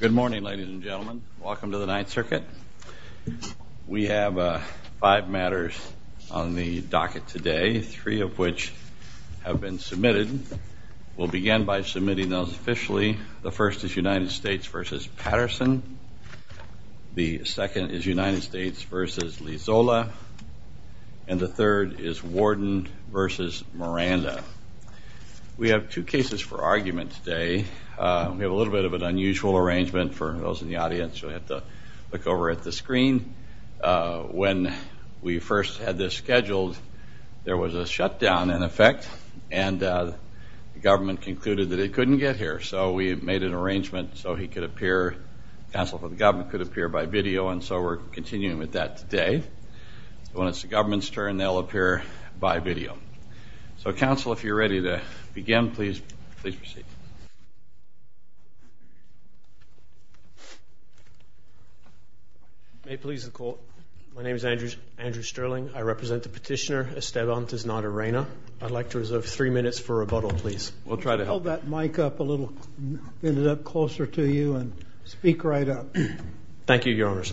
Good morning, ladies and gentlemen. Welcome to the Ninth Circuit. We have five matters on the docket today, three of which have been submitted. We'll begin by submitting those officially. The first is United States versus Patterson. The second is United States versus Lizola. And the third is Warden versus Miranda. We have two cases for argument today. We have a little bit of an unusual arrangement. For those in the audience, you'll have to look over at the screen. When we first had this scheduled, there was a shutdown in effect. And the government concluded that it couldn't get here. So we made an arrangement so he could appear, counsel for the government, could appear by video. And so we're continuing with that today. When it's the government's turn, they'll appear by video. So counsel, if you're ready to begin, please proceed. Thank you. May it please the court. My name is Andrew Sterling. I represent the petitioner Esteban Tiznada-Reyna. I'd like to reserve three minutes for rebuttal, please. We'll try to help. Could you hold that mic up a little closer to you and speak right up? Thank you, Your Honors.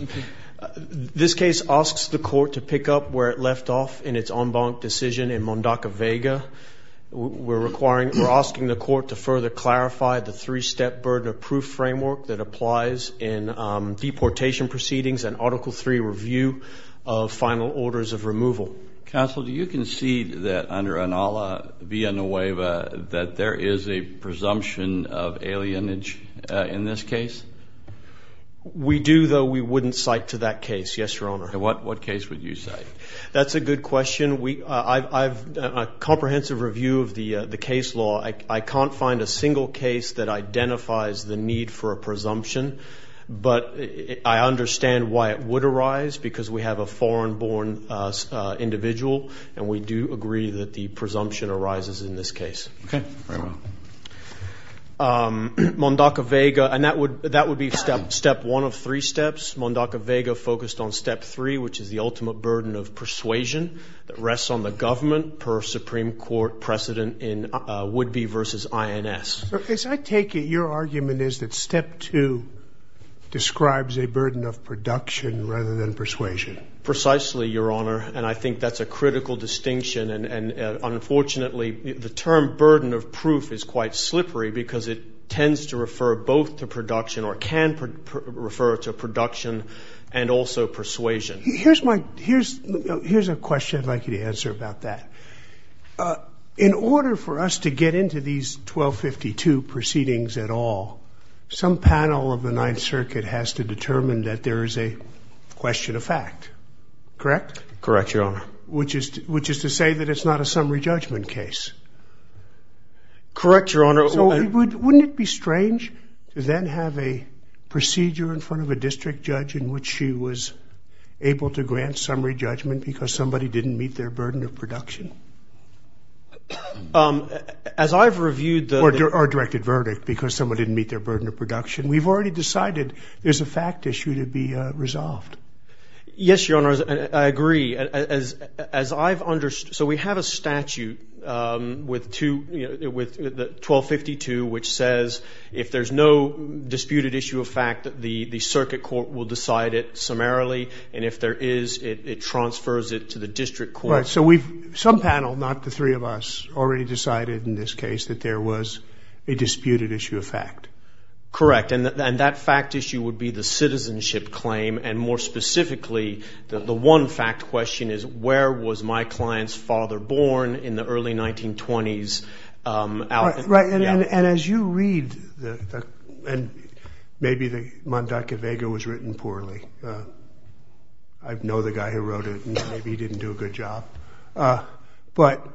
This case asks the court to pick up where it left off in its en banc decision in Mondaca-Vega. We're asking the court to further clarify the three-step burden of proof framework that applies in deportation proceedings and Article III review of final orders of removal. Counsel, do you concede that under ANALA-VIA-NOEVA that there is a presumption of alienage in this case? We do, though we wouldn't cite to that case, yes, Your Honor. And what case would you cite? That's a good question. I've done a comprehensive review of the case law. I can't find a single case that identifies the need for a presumption. But I understand why it would arise, because we have a foreign-born individual, and we do agree that the presumption arises in this case. OK, very well. Mondaca-Vega, and that would be step one of three steps. Mondaca-Vega focused on step three, which is the ultimate burden of persuasion that rests on the government per Supreme Court precedent in would-be versus INS. As I take it, your argument is that step two describes a burden of production rather than persuasion. Precisely, Your Honor, and I think that's a critical distinction. And unfortunately, the term burden of proof is quite slippery, because it tends to refer both to production, or can refer to production, and also persuasion. Here's a question I'd like you to answer about that. In order for us to get into these 1252 proceedings at all, some panel of the Ninth Circuit has to determine that there is a question of fact, correct? Correct, Your Honor. Which is to say that it's not a summary judgment case. Correct, Your Honor. Wouldn't it be strange to then have a procedure in front of a district judge in which she was able to grant summary judgment because somebody didn't meet their burden of production? As I've reviewed the- Or directed verdict, because someone didn't meet their burden of production. We've already decided there's a fact issue to be resolved. Yes, Your Honor, I agree. So we have a statute with 1252, which says if there's no disputed issue of fact, the circuit court will decide it summarily. And if there is, it transfers it to the district court. Right, so some panel, not the three of us, already decided in this case that there was a disputed issue of fact. Correct, and that fact issue would be the citizenship claim. And more specifically, the one fact question is, where was my client's father born in the early 1920s? Right, and as you read the- I think it was written poorly. I know the guy who wrote it, and maybe he didn't do a good job. But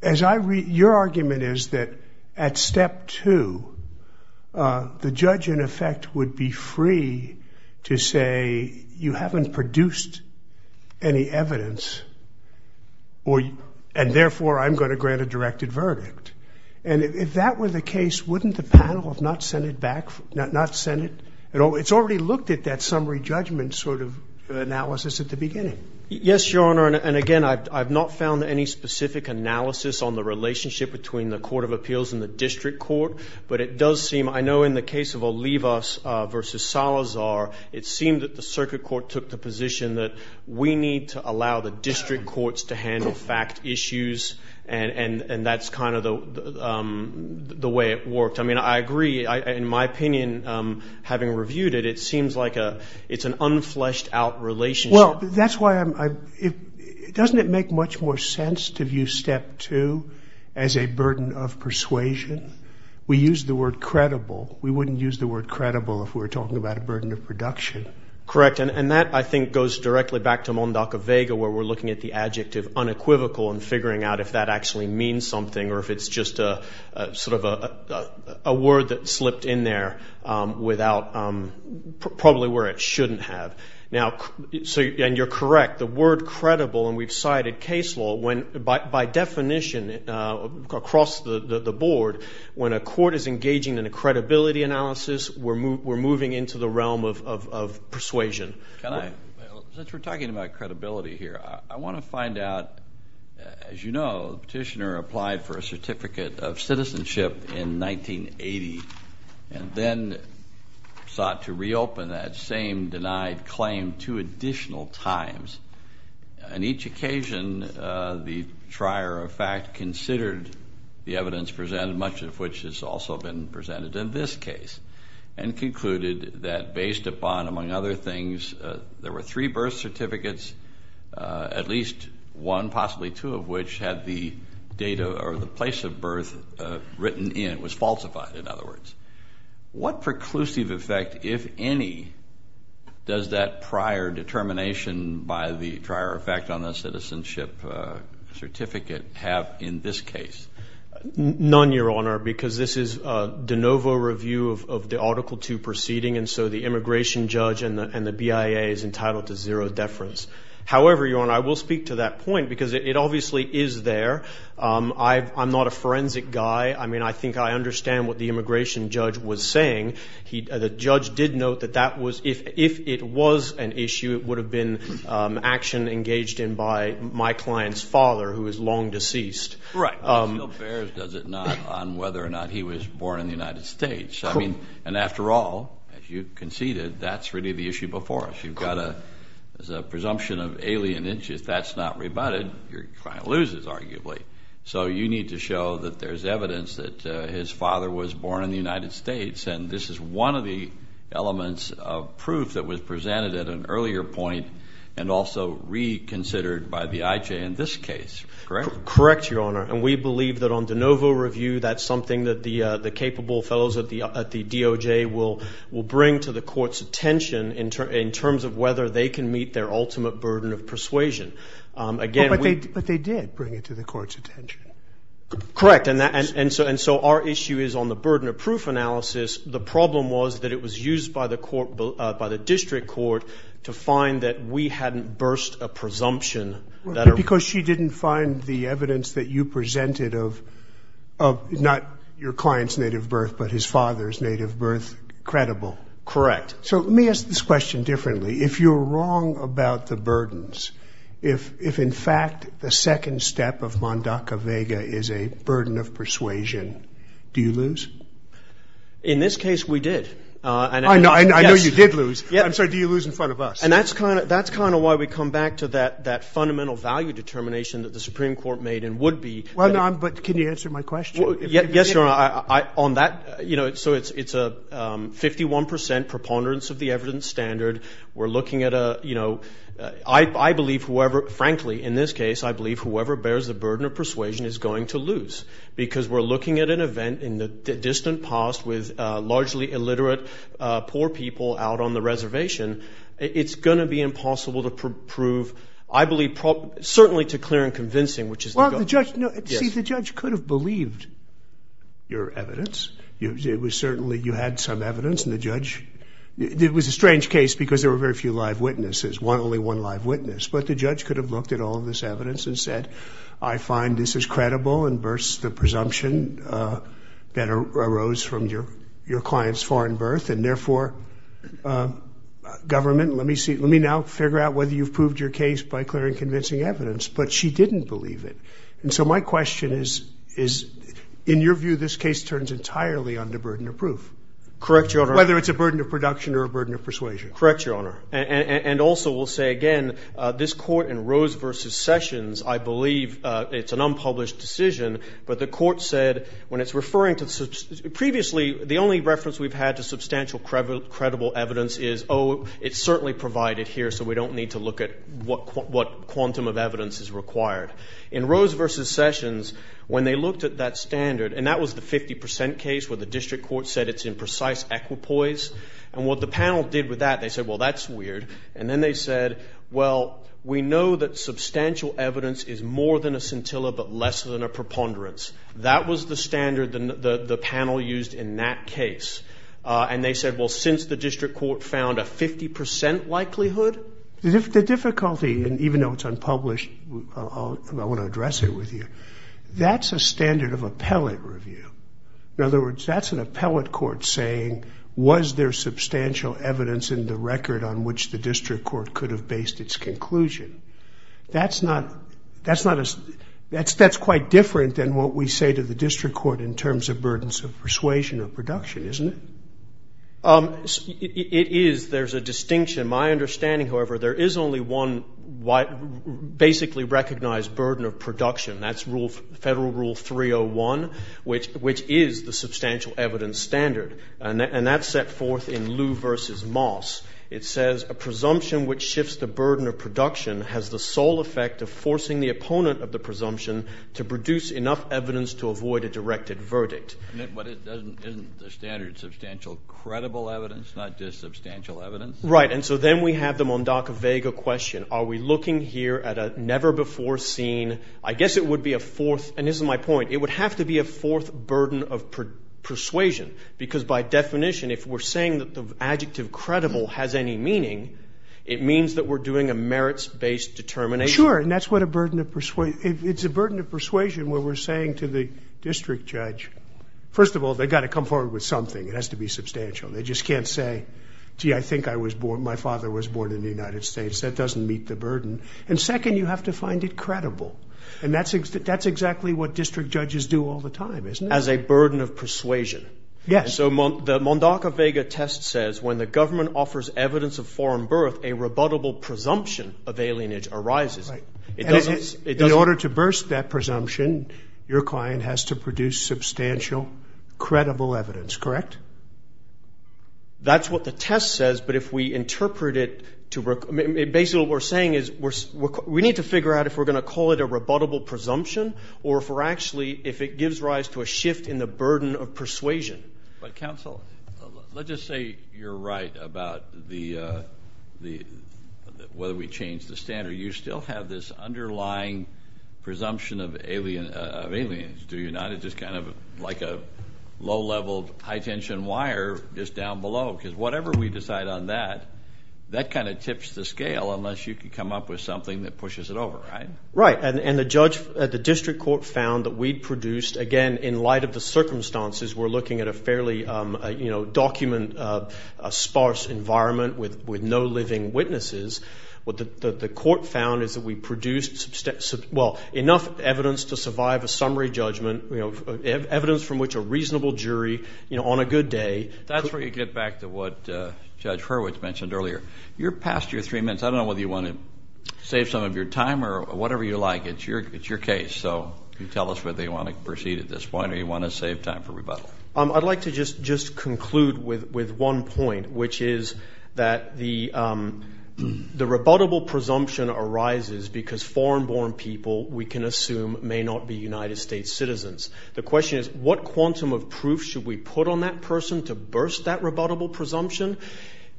your argument is that at step two, the judge, in effect, would be free to say, you haven't produced any evidence, and therefore, I'm going to grant a directed verdict. And if that were the case, wouldn't the panel have not sent it back? Not sent it? It's already looked at that summary judgment sort of analysis at the beginning. Yes, Your Honor, and again, I've not found any specific analysis on the relationship between the court of appeals and the district court. But it does seem, I know in the case of Olivas versus Salazar, it seemed that the circuit court took the position that we need to allow the district courts to handle fact issues, and that's kind of the way it worked. I mean, I agree. In my opinion, having reviewed it, it seems like it's an unfleshed out relationship. Well, that's why I'm- doesn't it make much more sense to view step two as a burden of persuasion? We use the word credible. We wouldn't use the word credible if we were talking about a burden of production. Correct, and that, I think, goes directly back to Mondaca-Vega, where we're looking at the adjective unequivocal and figuring out if that actually means something, or if it's just sort of a word that slipped in there without probably where it shouldn't have. Now, and you're correct, the word credible, and we've cited case law, when, by definition, across the board, when a court is engaging in a credibility analysis, we're moving into the realm of persuasion. Can I- since we're talking about credibility here, I want to find out, as you know, the petitioner applied for a certificate of citizenship in 1980 and then sought to reopen that same denied claim two additional times. On each occasion, the trier of fact considered the evidence presented, much of which has also been presented in this case, and concluded that based upon, among other things, there were three birth certificates, at least one, probably two of which had the date or the place of birth written in. It was falsified, in other words. What preclusive effect, if any, does that prior determination by the trier of fact on the citizenship certificate have in this case? None, Your Honor, because this is a de novo review of the Article II proceeding, and so the immigration judge and the BIA is entitled to zero deference. However, Your Honor, I will speak to that point because it obviously is there. I'm not a forensic guy. I mean, I think I understand what the immigration judge was saying. The judge did note that if it was an issue, it would have been action engaged in by my client's father, who is long deceased. Right. It still bears, does it not, on whether or not he was born in the United States. And after all, as you conceded, that's really the issue before us. You've got a presumption of alien interest. If that's not rebutted, your client loses, arguably. So you need to show that there's evidence that his father was born in the United States. And this is one of the elements of proof that was presented at an earlier point and also reconsidered by the IJ in this case, correct? Correct, Your Honor. And we believe that on de novo review, that's something that the capable fellows at the DOJ will bring to the court's attention in terms of whether they can meet their ultimate burden of persuasion. Again, we- But they did bring it to the court's attention. Correct, and so our issue is on the burden of proof analysis. The problem was that it was used by the district court to find that we hadn't burst a presumption that a- Because she didn't find the evidence that you presented of not your client's native birth, but his father's native birth credible. Correct. So let me ask this question differently. If you're wrong about the burdens, if in fact the second step of Mondaca-Vega is a burden of persuasion, do you lose? In this case, we did. I know you did lose. I'm sorry, do you lose in front of us? And that's kind of why we come back to that fundamental value determination that the Supreme Court made and would be. Well, no, but can you answer my question? Yes, Your Honor. On that, you know, so it's a 51% preponderance of the evidence standard. We're looking at a, you know, I believe whoever- Frankly, in this case, I believe whoever bears the burden of persuasion is going to lose because we're looking at an event in the distant past with largely illiterate poor people out on the reservation. It's going to be impossible to prove, I believe, certainly to clear and convincing, which is the- See, the judge could have believed. Your evidence, it was certainly, you had some evidence and the judge, it was a strange case because there were very few live witnesses, one, only one live witness, but the judge could have looked at all of this evidence and said, I find this is credible and burst the presumption that arose from your client's foreign birth and therefore government, let me see, let me now figure out whether you've proved your case by clearing convincing evidence, but she didn't believe it. And so my question is, in your view, this case turns entirely under burden of proof. Correct, Your Honor. Whether it's a burden of production or a burden of persuasion. Correct, Your Honor. And also we'll say again, this court in Rose versus Sessions, I believe it's an unpublished decision, but the court said when it's referring to, previously, the only reference we've had to substantial credible evidence is, oh, it's certainly provided here, so we don't need to look at what quantum of evidence is required. In Rose versus Sessions, when they looked at that standard, and that was the 50% case where the district court said it's in precise equipoise, and what the panel did with that, they said, well, that's weird. And then they said, well, we know that substantial evidence is more than a scintilla, but less than a preponderance. That was the standard the panel used in that case. And they said, well, since the district court found a 50% likelihood. The difficulty, and even though it's unpublished, I want to address it with you. That's a standard of appellate review. In other words, that's an appellate court saying, was there substantial evidence in the record on which the district court could have based its conclusion? That's not, that's quite different than what we say to the district court in terms of burdens of persuasion or production, isn't it? It is. There's a distinction. My understanding, however, there is only one basically recognized burden of production. That's Federal Rule 301, which is the substantial evidence standard. And that's set forth in Lew versus Moss. It says, a presumption which shifts the burden of production has the sole effect of forcing the opponent of the presumption to produce enough evidence to avoid a directed verdict. But isn't the standard substantial credible evidence, not just substantial evidence? Right, and so then we have the Mondaca-Vega question. Are we looking here at a never-before-seen, I guess it would be a fourth, and this is my point, it would have to be a fourth burden of persuasion. Because by definition, if we're saying that the adjective credible has any meaning, it means that we're doing a merits-based determination. Sure, and that's what a burden of persuasion, it's a burden of persuasion where we're saying to the district judge, first of all, they gotta come forward with something. It has to be substantial. They just can't say, gee, I think I was born, my father was born in the United States. That doesn't meet the burden. And second, you have to find it credible. And that's exactly what district judges do all the time, isn't it? As a burden of persuasion. Yes. So the Mondaca-Vega test says, when the government offers evidence of foreign birth, a rebuttable presumption of alienage arises. Right. In order to burst that presumption, your client has to produce substantial, credible evidence, correct? That's what the test says, but if we interpret it to, basically what we're saying is, we need to figure out if we're gonna call it a rebuttable presumption, or if we're actually, if it gives rise to a shift in the burden of persuasion. But counsel, let's just say you're right about whether we change the standard. You still have this underlying presumption of alienage, do you not? It's just kind of like a low-level, high-tension wire just down below, because whatever we decide on that, that kind of tips the scale, unless you can come up with something that pushes it over, right? Right, and the district court found that we'd produced, again, in light of the circumstances, we're looking at a fairly document, a sparse environment with no living witnesses. What the court found is that we produced, well, enough evidence to survive a summary judgment, evidence from which a reasonable jury, on a good day- That's where you get back to what Judge Hurwitz mentioned earlier. You're past your three minutes. I don't know whether you want to save some of your time, or whatever you like. It's your case, so you tell us whether you want to proceed at this point, or you want to save time for rebuttal. I'd like to just conclude with one point, which is that the rebuttable presumption arises because foreign-born people, we can assume, may not be United States citizens. The question is, what quantum of proof should we put on that person to burst that rebuttable presumption?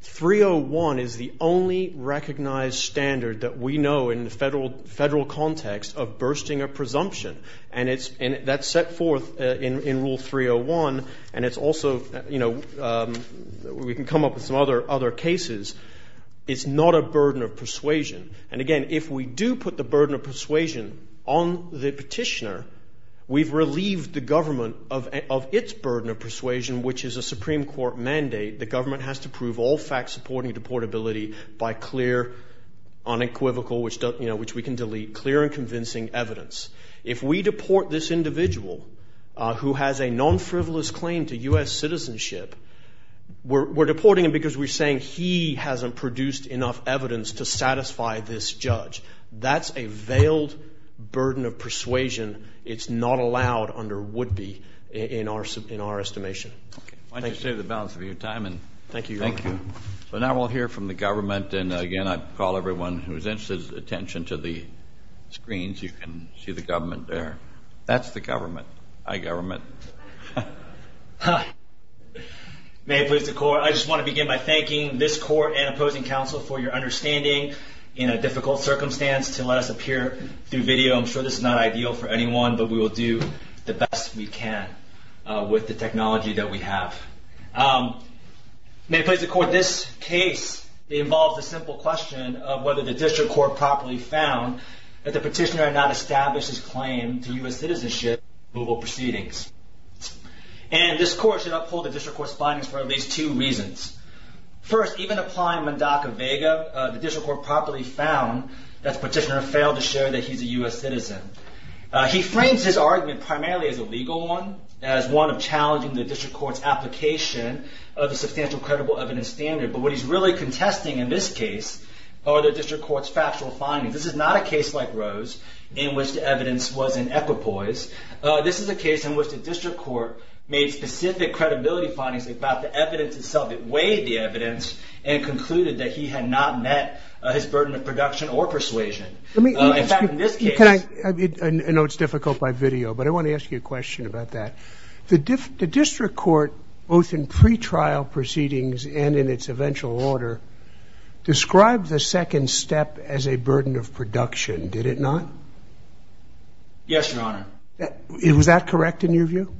301 is the only recognized standard that we know in the federal context of bursting a presumption, and that's set forth in Rule 301, and it's also, we can come up with some other cases. It's not a burden of persuasion, and again, if we do put the burden of persuasion on the petitioner, we've relieved the government of its burden of persuasion, which is a Supreme Court mandate. The government has to prove all facts supporting deportability by clear, unequivocal, which we can delete, clear and convincing evidence. If we deport this individual who has a non-frivolous claim to US citizenship, we're deporting him because we're saying he hasn't produced enough evidence to satisfy this judge. That's a veiled burden of persuasion. It's not allowed under would-be in our estimation. Thank you. Why don't you say the balance of your time, and thank you. Thank you. So now we'll hear from the government, and again, I'd call everyone who's interested attention to the screens. You can see the government there. That's the government. Hi, government. May it please the court. I just want to begin by thanking this court and opposing counsel for your understanding in a difficult circumstance to let us appear through video. I'm sure this is not ideal for anyone, but we will do the best we can with the technology that we have. May it please the court. This case involves a simple question of whether the district court properly found that the petitioner had not established his claim to US citizenship removal proceedings. And this court should uphold the district court's findings for at least two reasons. First, even applying Mendoca-Vega, the district court properly found that the petitioner failed to show that he's a US citizen. He frames his argument primarily as a legal one, as one of challenging the district court's application of the substantial credible evidence standard. But what he's really contesting in this case are the district court's factual findings. This is not a case like Rose in which the evidence was in equipoise. This is a case in which the district court made specific credibility findings about the evidence itself. It weighed the evidence and concluded that he had not met his burden of production or persuasion. In fact, in this case. Can I, I know it's difficult by video, but I want to ask you a question about that. The district court, both in pretrial proceedings and in its eventual order, described the second step as a burden of production. Did it not? Yes, your honor. Was that correct in your view?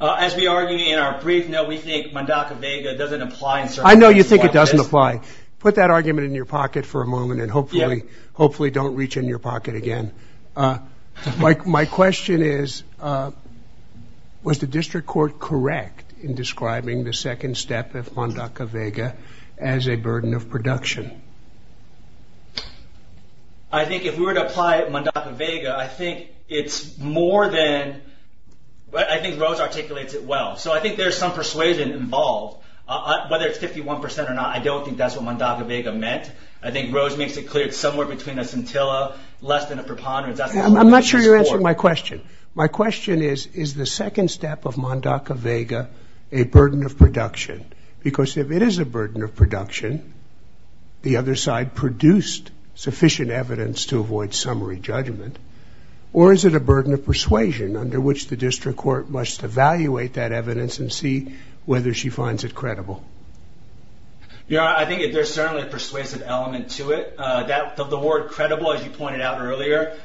As we argue in our brief, no, we think Mendoca-Vega doesn't apply in certain cases like this. I know you think it doesn't apply. Put that argument in your pocket for a moment and hopefully don't reach in your pocket again. My question is, was the district court correct in describing the second step of Mendoca-Vega as a burden of production? I think if we were to apply Mendoca-Vega, I think it's more than, I think Rose articulates it well. So I think there's some persuasion involved. Whether it's 51% or not, I don't think that's what Mendoca-Vega meant. I think Rose makes it clear it's somewhere between a scintilla, less than a preponderance. I'm not sure you're answering my question. My question is, is the second step of Mendoca-Vega a burden of production? Because if it is a burden of production, the other side produced sufficient evidence to avoid summary judgment. Or is it a burden of persuasion under which the district court must evaluate that evidence and see whether she finds it credible? Yeah, I think there's certainly a persuasive element to it. The word credible, as you pointed out earlier,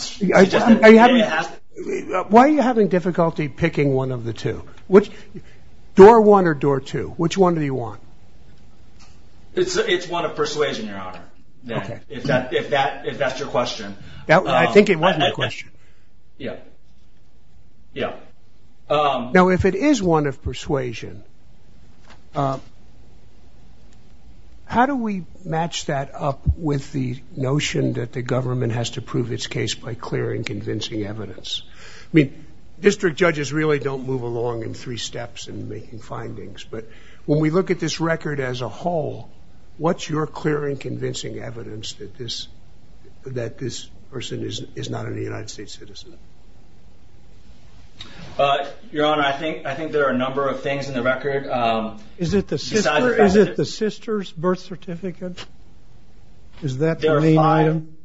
she just didn't ask it. Why are you having difficulty picking one of the two? Which, door one or door two? Which one do you want? It's one of persuasion, Your Honor. Okay. If that's your question. I think it was my question. Yeah, yeah. Now, if it is one of persuasion, how do we match that up with the notion that the government has to prove its case by clearing convincing evidence? I mean, district judges really don't move along in three steps in making findings. But when we look at this record as a whole, what's your clearing convincing evidence that this person is not a United States citizen? Your Honor, I think there are a number of things in the record. Is it the sister's birth certificate? Is that the main item?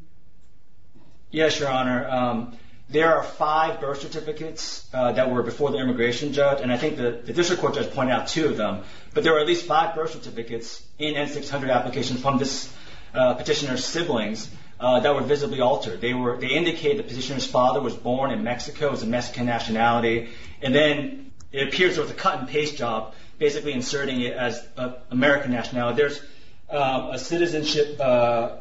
Yes, Your Honor. There are five birth certificates that were before the immigration judge, and I think the district court judge pointed out two of them. But there were at least five birth certificates in N-600 applications from this petitioner's siblings that were visibly altered. They indicated the petitioner's father was born in Mexico, has a Mexican nationality, and then it appears there was a cut-and-paste job basically inserting it as American nationality. There's a citizenship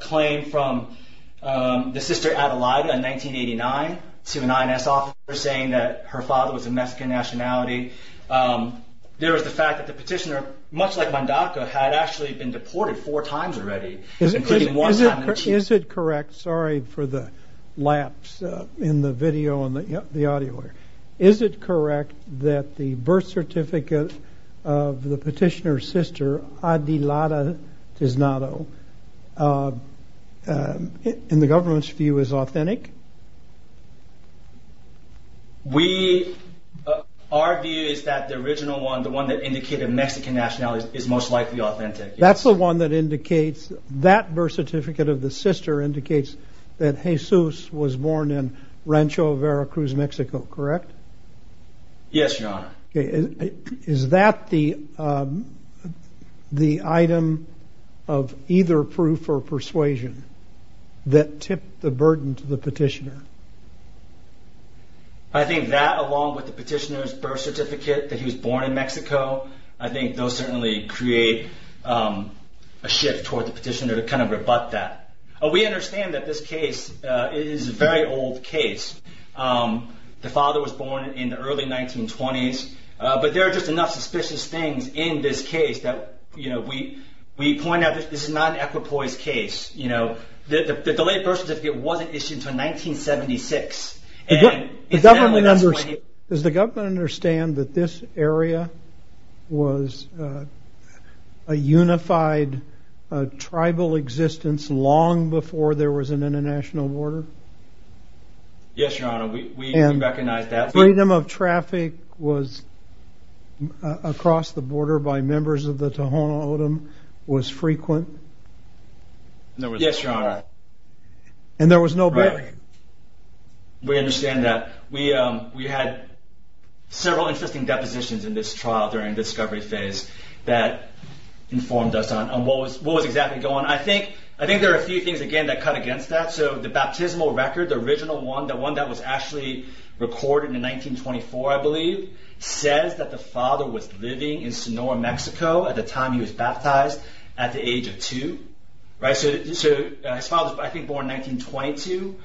claim from the sister Adelida in 1989 to an INS officer saying that her father was of Mexican nationality. There was the fact that the petitioner, much like Mondacco, had actually been deported four times already, including one time in Chico. Is it correct, sorry for the lapse in the video and the audio here. Is it correct that the birth certificate of the petitioner's sister, Adelida Tiznado, in the government's view, is authentic? Our view is that the original one, the one that indicated Mexican nationality, is most likely authentic. That's the one that indicates, that birth certificate of the sister indicates that Jesus was born in Rancho Veracruz, Mexico, correct? Yes, your honor. Is that the item of either proof or persuasion that tipped the burden to the petitioner? I think that along with the petitioner's birth certificate that he was born in Mexico, I think those certainly create a shift toward the petitioner to kind of rebut that. We understand that this case is a very old case. The father was born in the early 1920s, but there are just enough suspicious things in this case that we point out that this is not an equipoised case. You know, the late birth certificate wasn't issued until 1976. Does the government understand that this area was a unified tribal existence long before there was an international border? Yes, your honor, we recognize that. Freedom of traffic was, across the border by members of the Tohono O'odham, was frequent? Yes, your honor. And there was no break? We understand that. We had several interesting depositions in this trial during discovery phase that informed us on what was exactly going on. I think there are a few things, again, that cut against that. So the baptismal record, the original one, the one that was actually recorded in 1924, I believe, says that the father was living in Sonora, Mexico at the time he was baptized, at the age of two. So his father was, I think, born in 1922.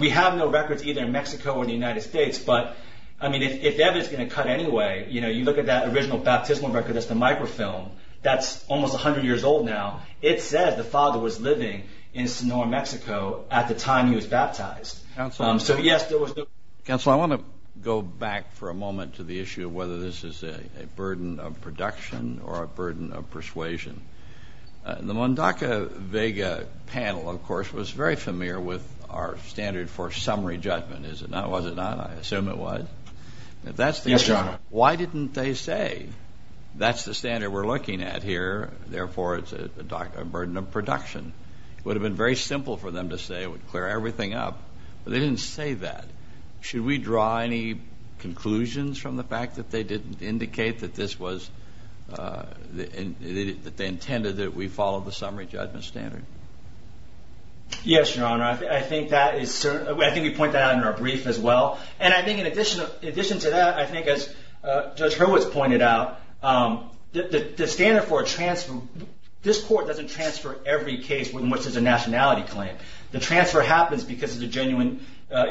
We have no records either in Mexico or the United States, but I mean, if that is gonna cut anyway, you look at that original baptismal record as the microfilm, that's almost 100 years old now. It says the father was living in Sonora, Mexico at the time he was baptized. Counselor? So yes, there was no... Counselor, I wanna go back for a moment to the issue of whether this is a burden of production or a burden of persuasion. The Mondaca-Vega panel, of course, was very familiar with our standard for summary judgment. Was it not? I assume it was. If that's the case... Yes, your honor. Why didn't they say, that's the standard we're looking at here, therefore, it's a burden of production? It would have been very simple for them to say, it would clear everything up, but they didn't say that. Should we draw any conclusions from the fact that they didn't indicate that this was... That they intended that we follow the summary judgment standard? Yes, your honor. I think that is... I think we point that out in our brief as well. And I think in addition to that, I think as Judge Hurwitz pointed out, the standard for a transfer, this court doesn't transfer every case within which there's a nationality claim. The transfer happens because of the genuine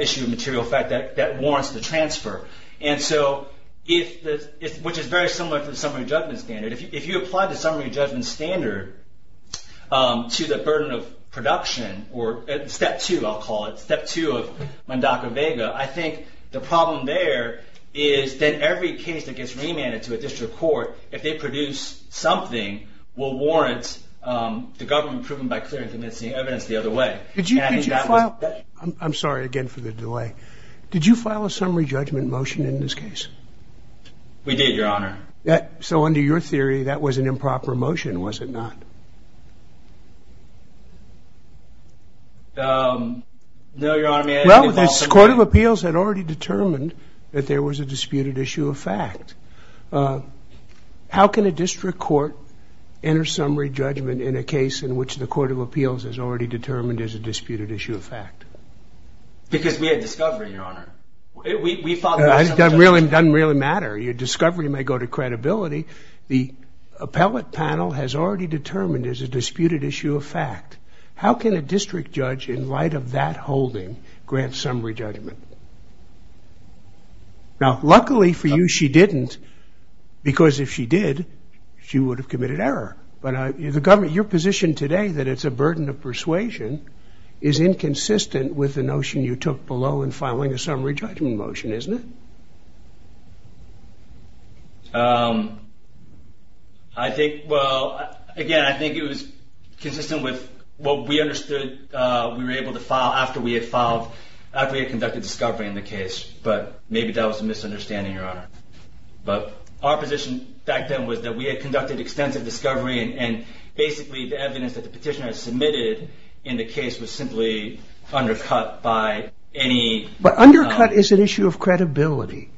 issue of material fact that warrants the transfer. And so, which is very similar to the summary judgment standard. If you apply the summary judgment standard to the burden of production, or step two, I'll call it, step two of Mondaca-Vega, I think the problem there is that every case that gets remanded to a district court, if they produce something, will warrant the government proven by clear and convincing evidence the other way. Did you file... I'm sorry, again, for the delay. Did you file a summary judgment motion in this case? We did, your honor. So under your theory, that was an improper motion, was it not? No, your honor. Well, this Court of Appeals had already determined that there was a disputed issue of fact. How can a district court enter summary judgment in a case in which the Court of Appeals has already determined there's a disputed issue of fact? Because we had discovery, your honor. We filed... It doesn't really matter. Your discovery may go to credibility. The appellate panel has already determined there's a disputed issue of fact. How can a district judge, in light of that holding, grant summary judgment? Now, luckily for you, she didn't. Because if she did, she would have committed error. But the government, your position today that it's a burden of persuasion is inconsistent with the notion you took below in filing a summary judgment motion, isn't it? I think, well, again, I think it was consistent with what we understood we were able to file after we had filed, after we had conducted discovery in the case. Maybe that was a misunderstanding, your honor. But our position back then was that we had conducted extensive discovery and basically the evidence that the petitioner had submitted in the case was simply undercut by any... But undercut is an issue of credibility.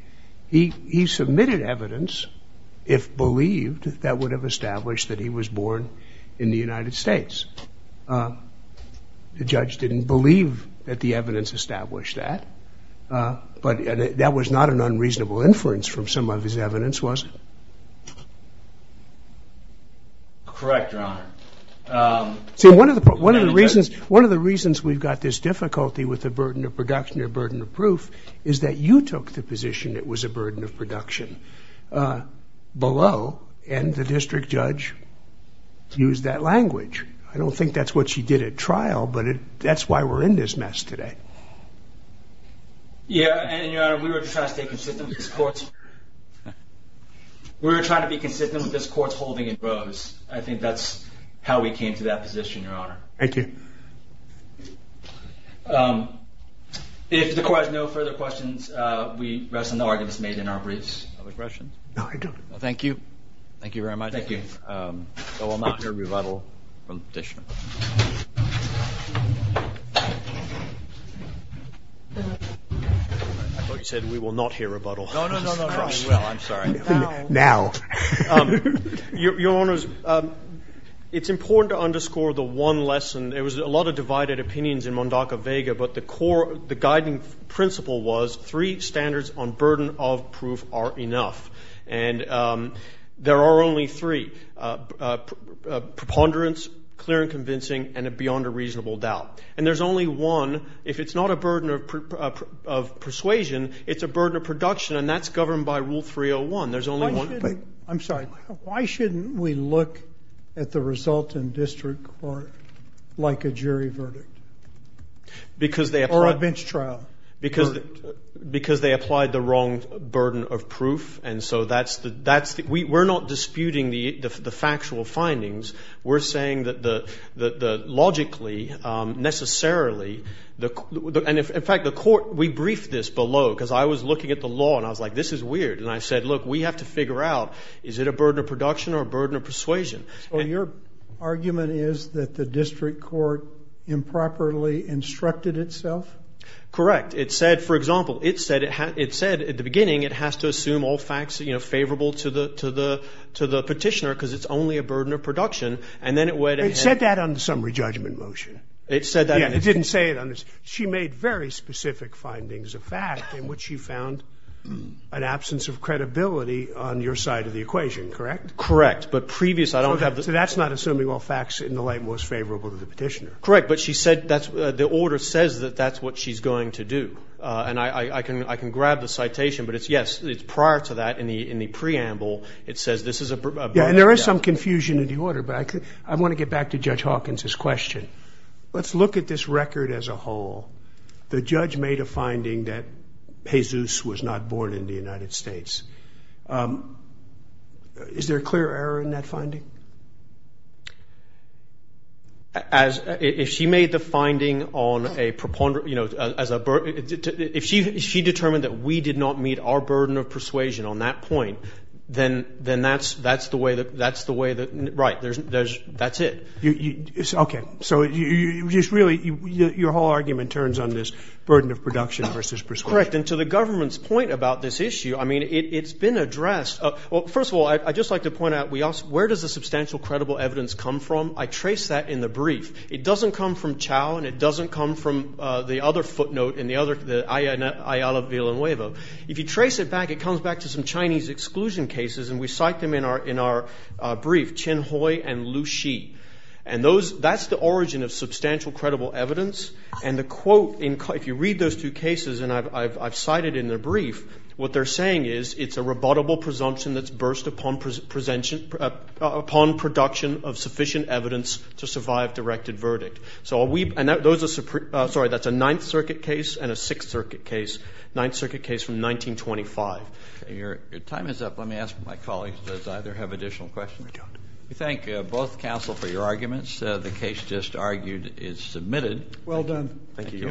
He submitted evidence, if believed, that would have established that he was born in the United States. The judge didn't believe that the evidence established that. But that was not an unreasonable inference from some of his evidence, was it? Correct, your honor. See, one of the reasons we've got this difficulty with the burden of production or burden of proof is that you took the position it was a burden of production below and the district judge used that language. I don't think that's what she did at trial, but that's why we're in this mess today. Yeah, and your honor, we were just trying to stay consistent with this court's... We were trying to be consistent with this court's holding in Rose. I think that's how we came to that position, your honor. Thank you. If the court has no further questions, we rest on the arguments made in our briefs. Other questions? No, I don't. Thank you. Thank you very much. Thank you. I will not hear a rebuttal from the petitioner. I thought you said we will not hear a rebuttal. No, no, no, no, no, we will, I'm sorry. Now. Now. Your honors, it's important to underscore the one lesson. There was a lot of divided opinions in Mondaca-Vega, but the core, the guiding principle was three standards on burden of proof are enough. And there are only three, preponderance, clear and convincing, and a beyond a reasonable doubt. And there's only one, if it's not enough, if it's not a burden of persuasion, it's a burden of production. And that's governed by rule 301. There's only one. I'm sorry. Why shouldn't we look at the result in district court like a jury verdict? Because they apply. Or a bench trial. Because they applied the wrong burden of proof. And so that's, we're not disputing the factual findings. We're saying that the logically, necessarily, and in fact, the court, we briefed this below, because I was looking at the law and I was like, this is weird. And I said, look, we have to figure out, is it a burden of production or a burden of persuasion? So your argument is that the district court improperly instructed itself? Correct. It said, for example, it said at the beginning, it has to assume all facts favorable to the petitioner, because it's only a burden of production. And then it went ahead. It said that on the summary judgment motion. It said that. It didn't say it on this. She made very specific findings of fact in which she found an absence of credibility on your side of the equation, correct? Correct. But previous, I don't have the. So that's not assuming all facts in the light most favorable to the petitioner. Correct. But she said, the order says that that's what she's going to do. And I can grab the citation, but it's yes, it's prior to that in the preamble, it says this is a burden of production. Yeah, and there is some confusion in the order, but I want to get back to Judge Hawkins's question. Let's look at this record as a whole. The judge made a finding that Jesus was not born in the United States. Is there a clear error in that finding? As if she made the finding on a preponderant, you know, as a, if she determined that we did not meet our burden of persuasion on that point, then that's the way that, that's the way that, right, there's, that's it. Okay, so you just really, your whole argument turns on this burden of production versus persuasion. Correct, and to the government's point about this issue, I mean, it's been addressed. Well, first of all, I'd just like to point out, we also, where does the substantial credible evidence come from? I traced that in the brief. It doesn't come from Chao, and it doesn't come from the other footnote in the other, the Ayala Villanueva. If you trace it back, it comes back to some Chinese exclusion cases, and we cite them in our brief, Chen Hui and Lu Shi, and those, that's the origin of substantial credible evidence, and the quote in, if you read those two cases, and I've cited in the brief, what they're saying is, it's a rebuttable presumption that's burst upon production of sufficient evidence to survive directed verdict, so are we, and those are, sorry, that's a Ninth Circuit case and a Sixth Circuit case, Ninth Circuit case from 1925. Your time is up, let me ask my colleagues, does either have additional questions? We don't. We thank both counsel for your arguments. The case just argued is submitted. Well done. Thank you.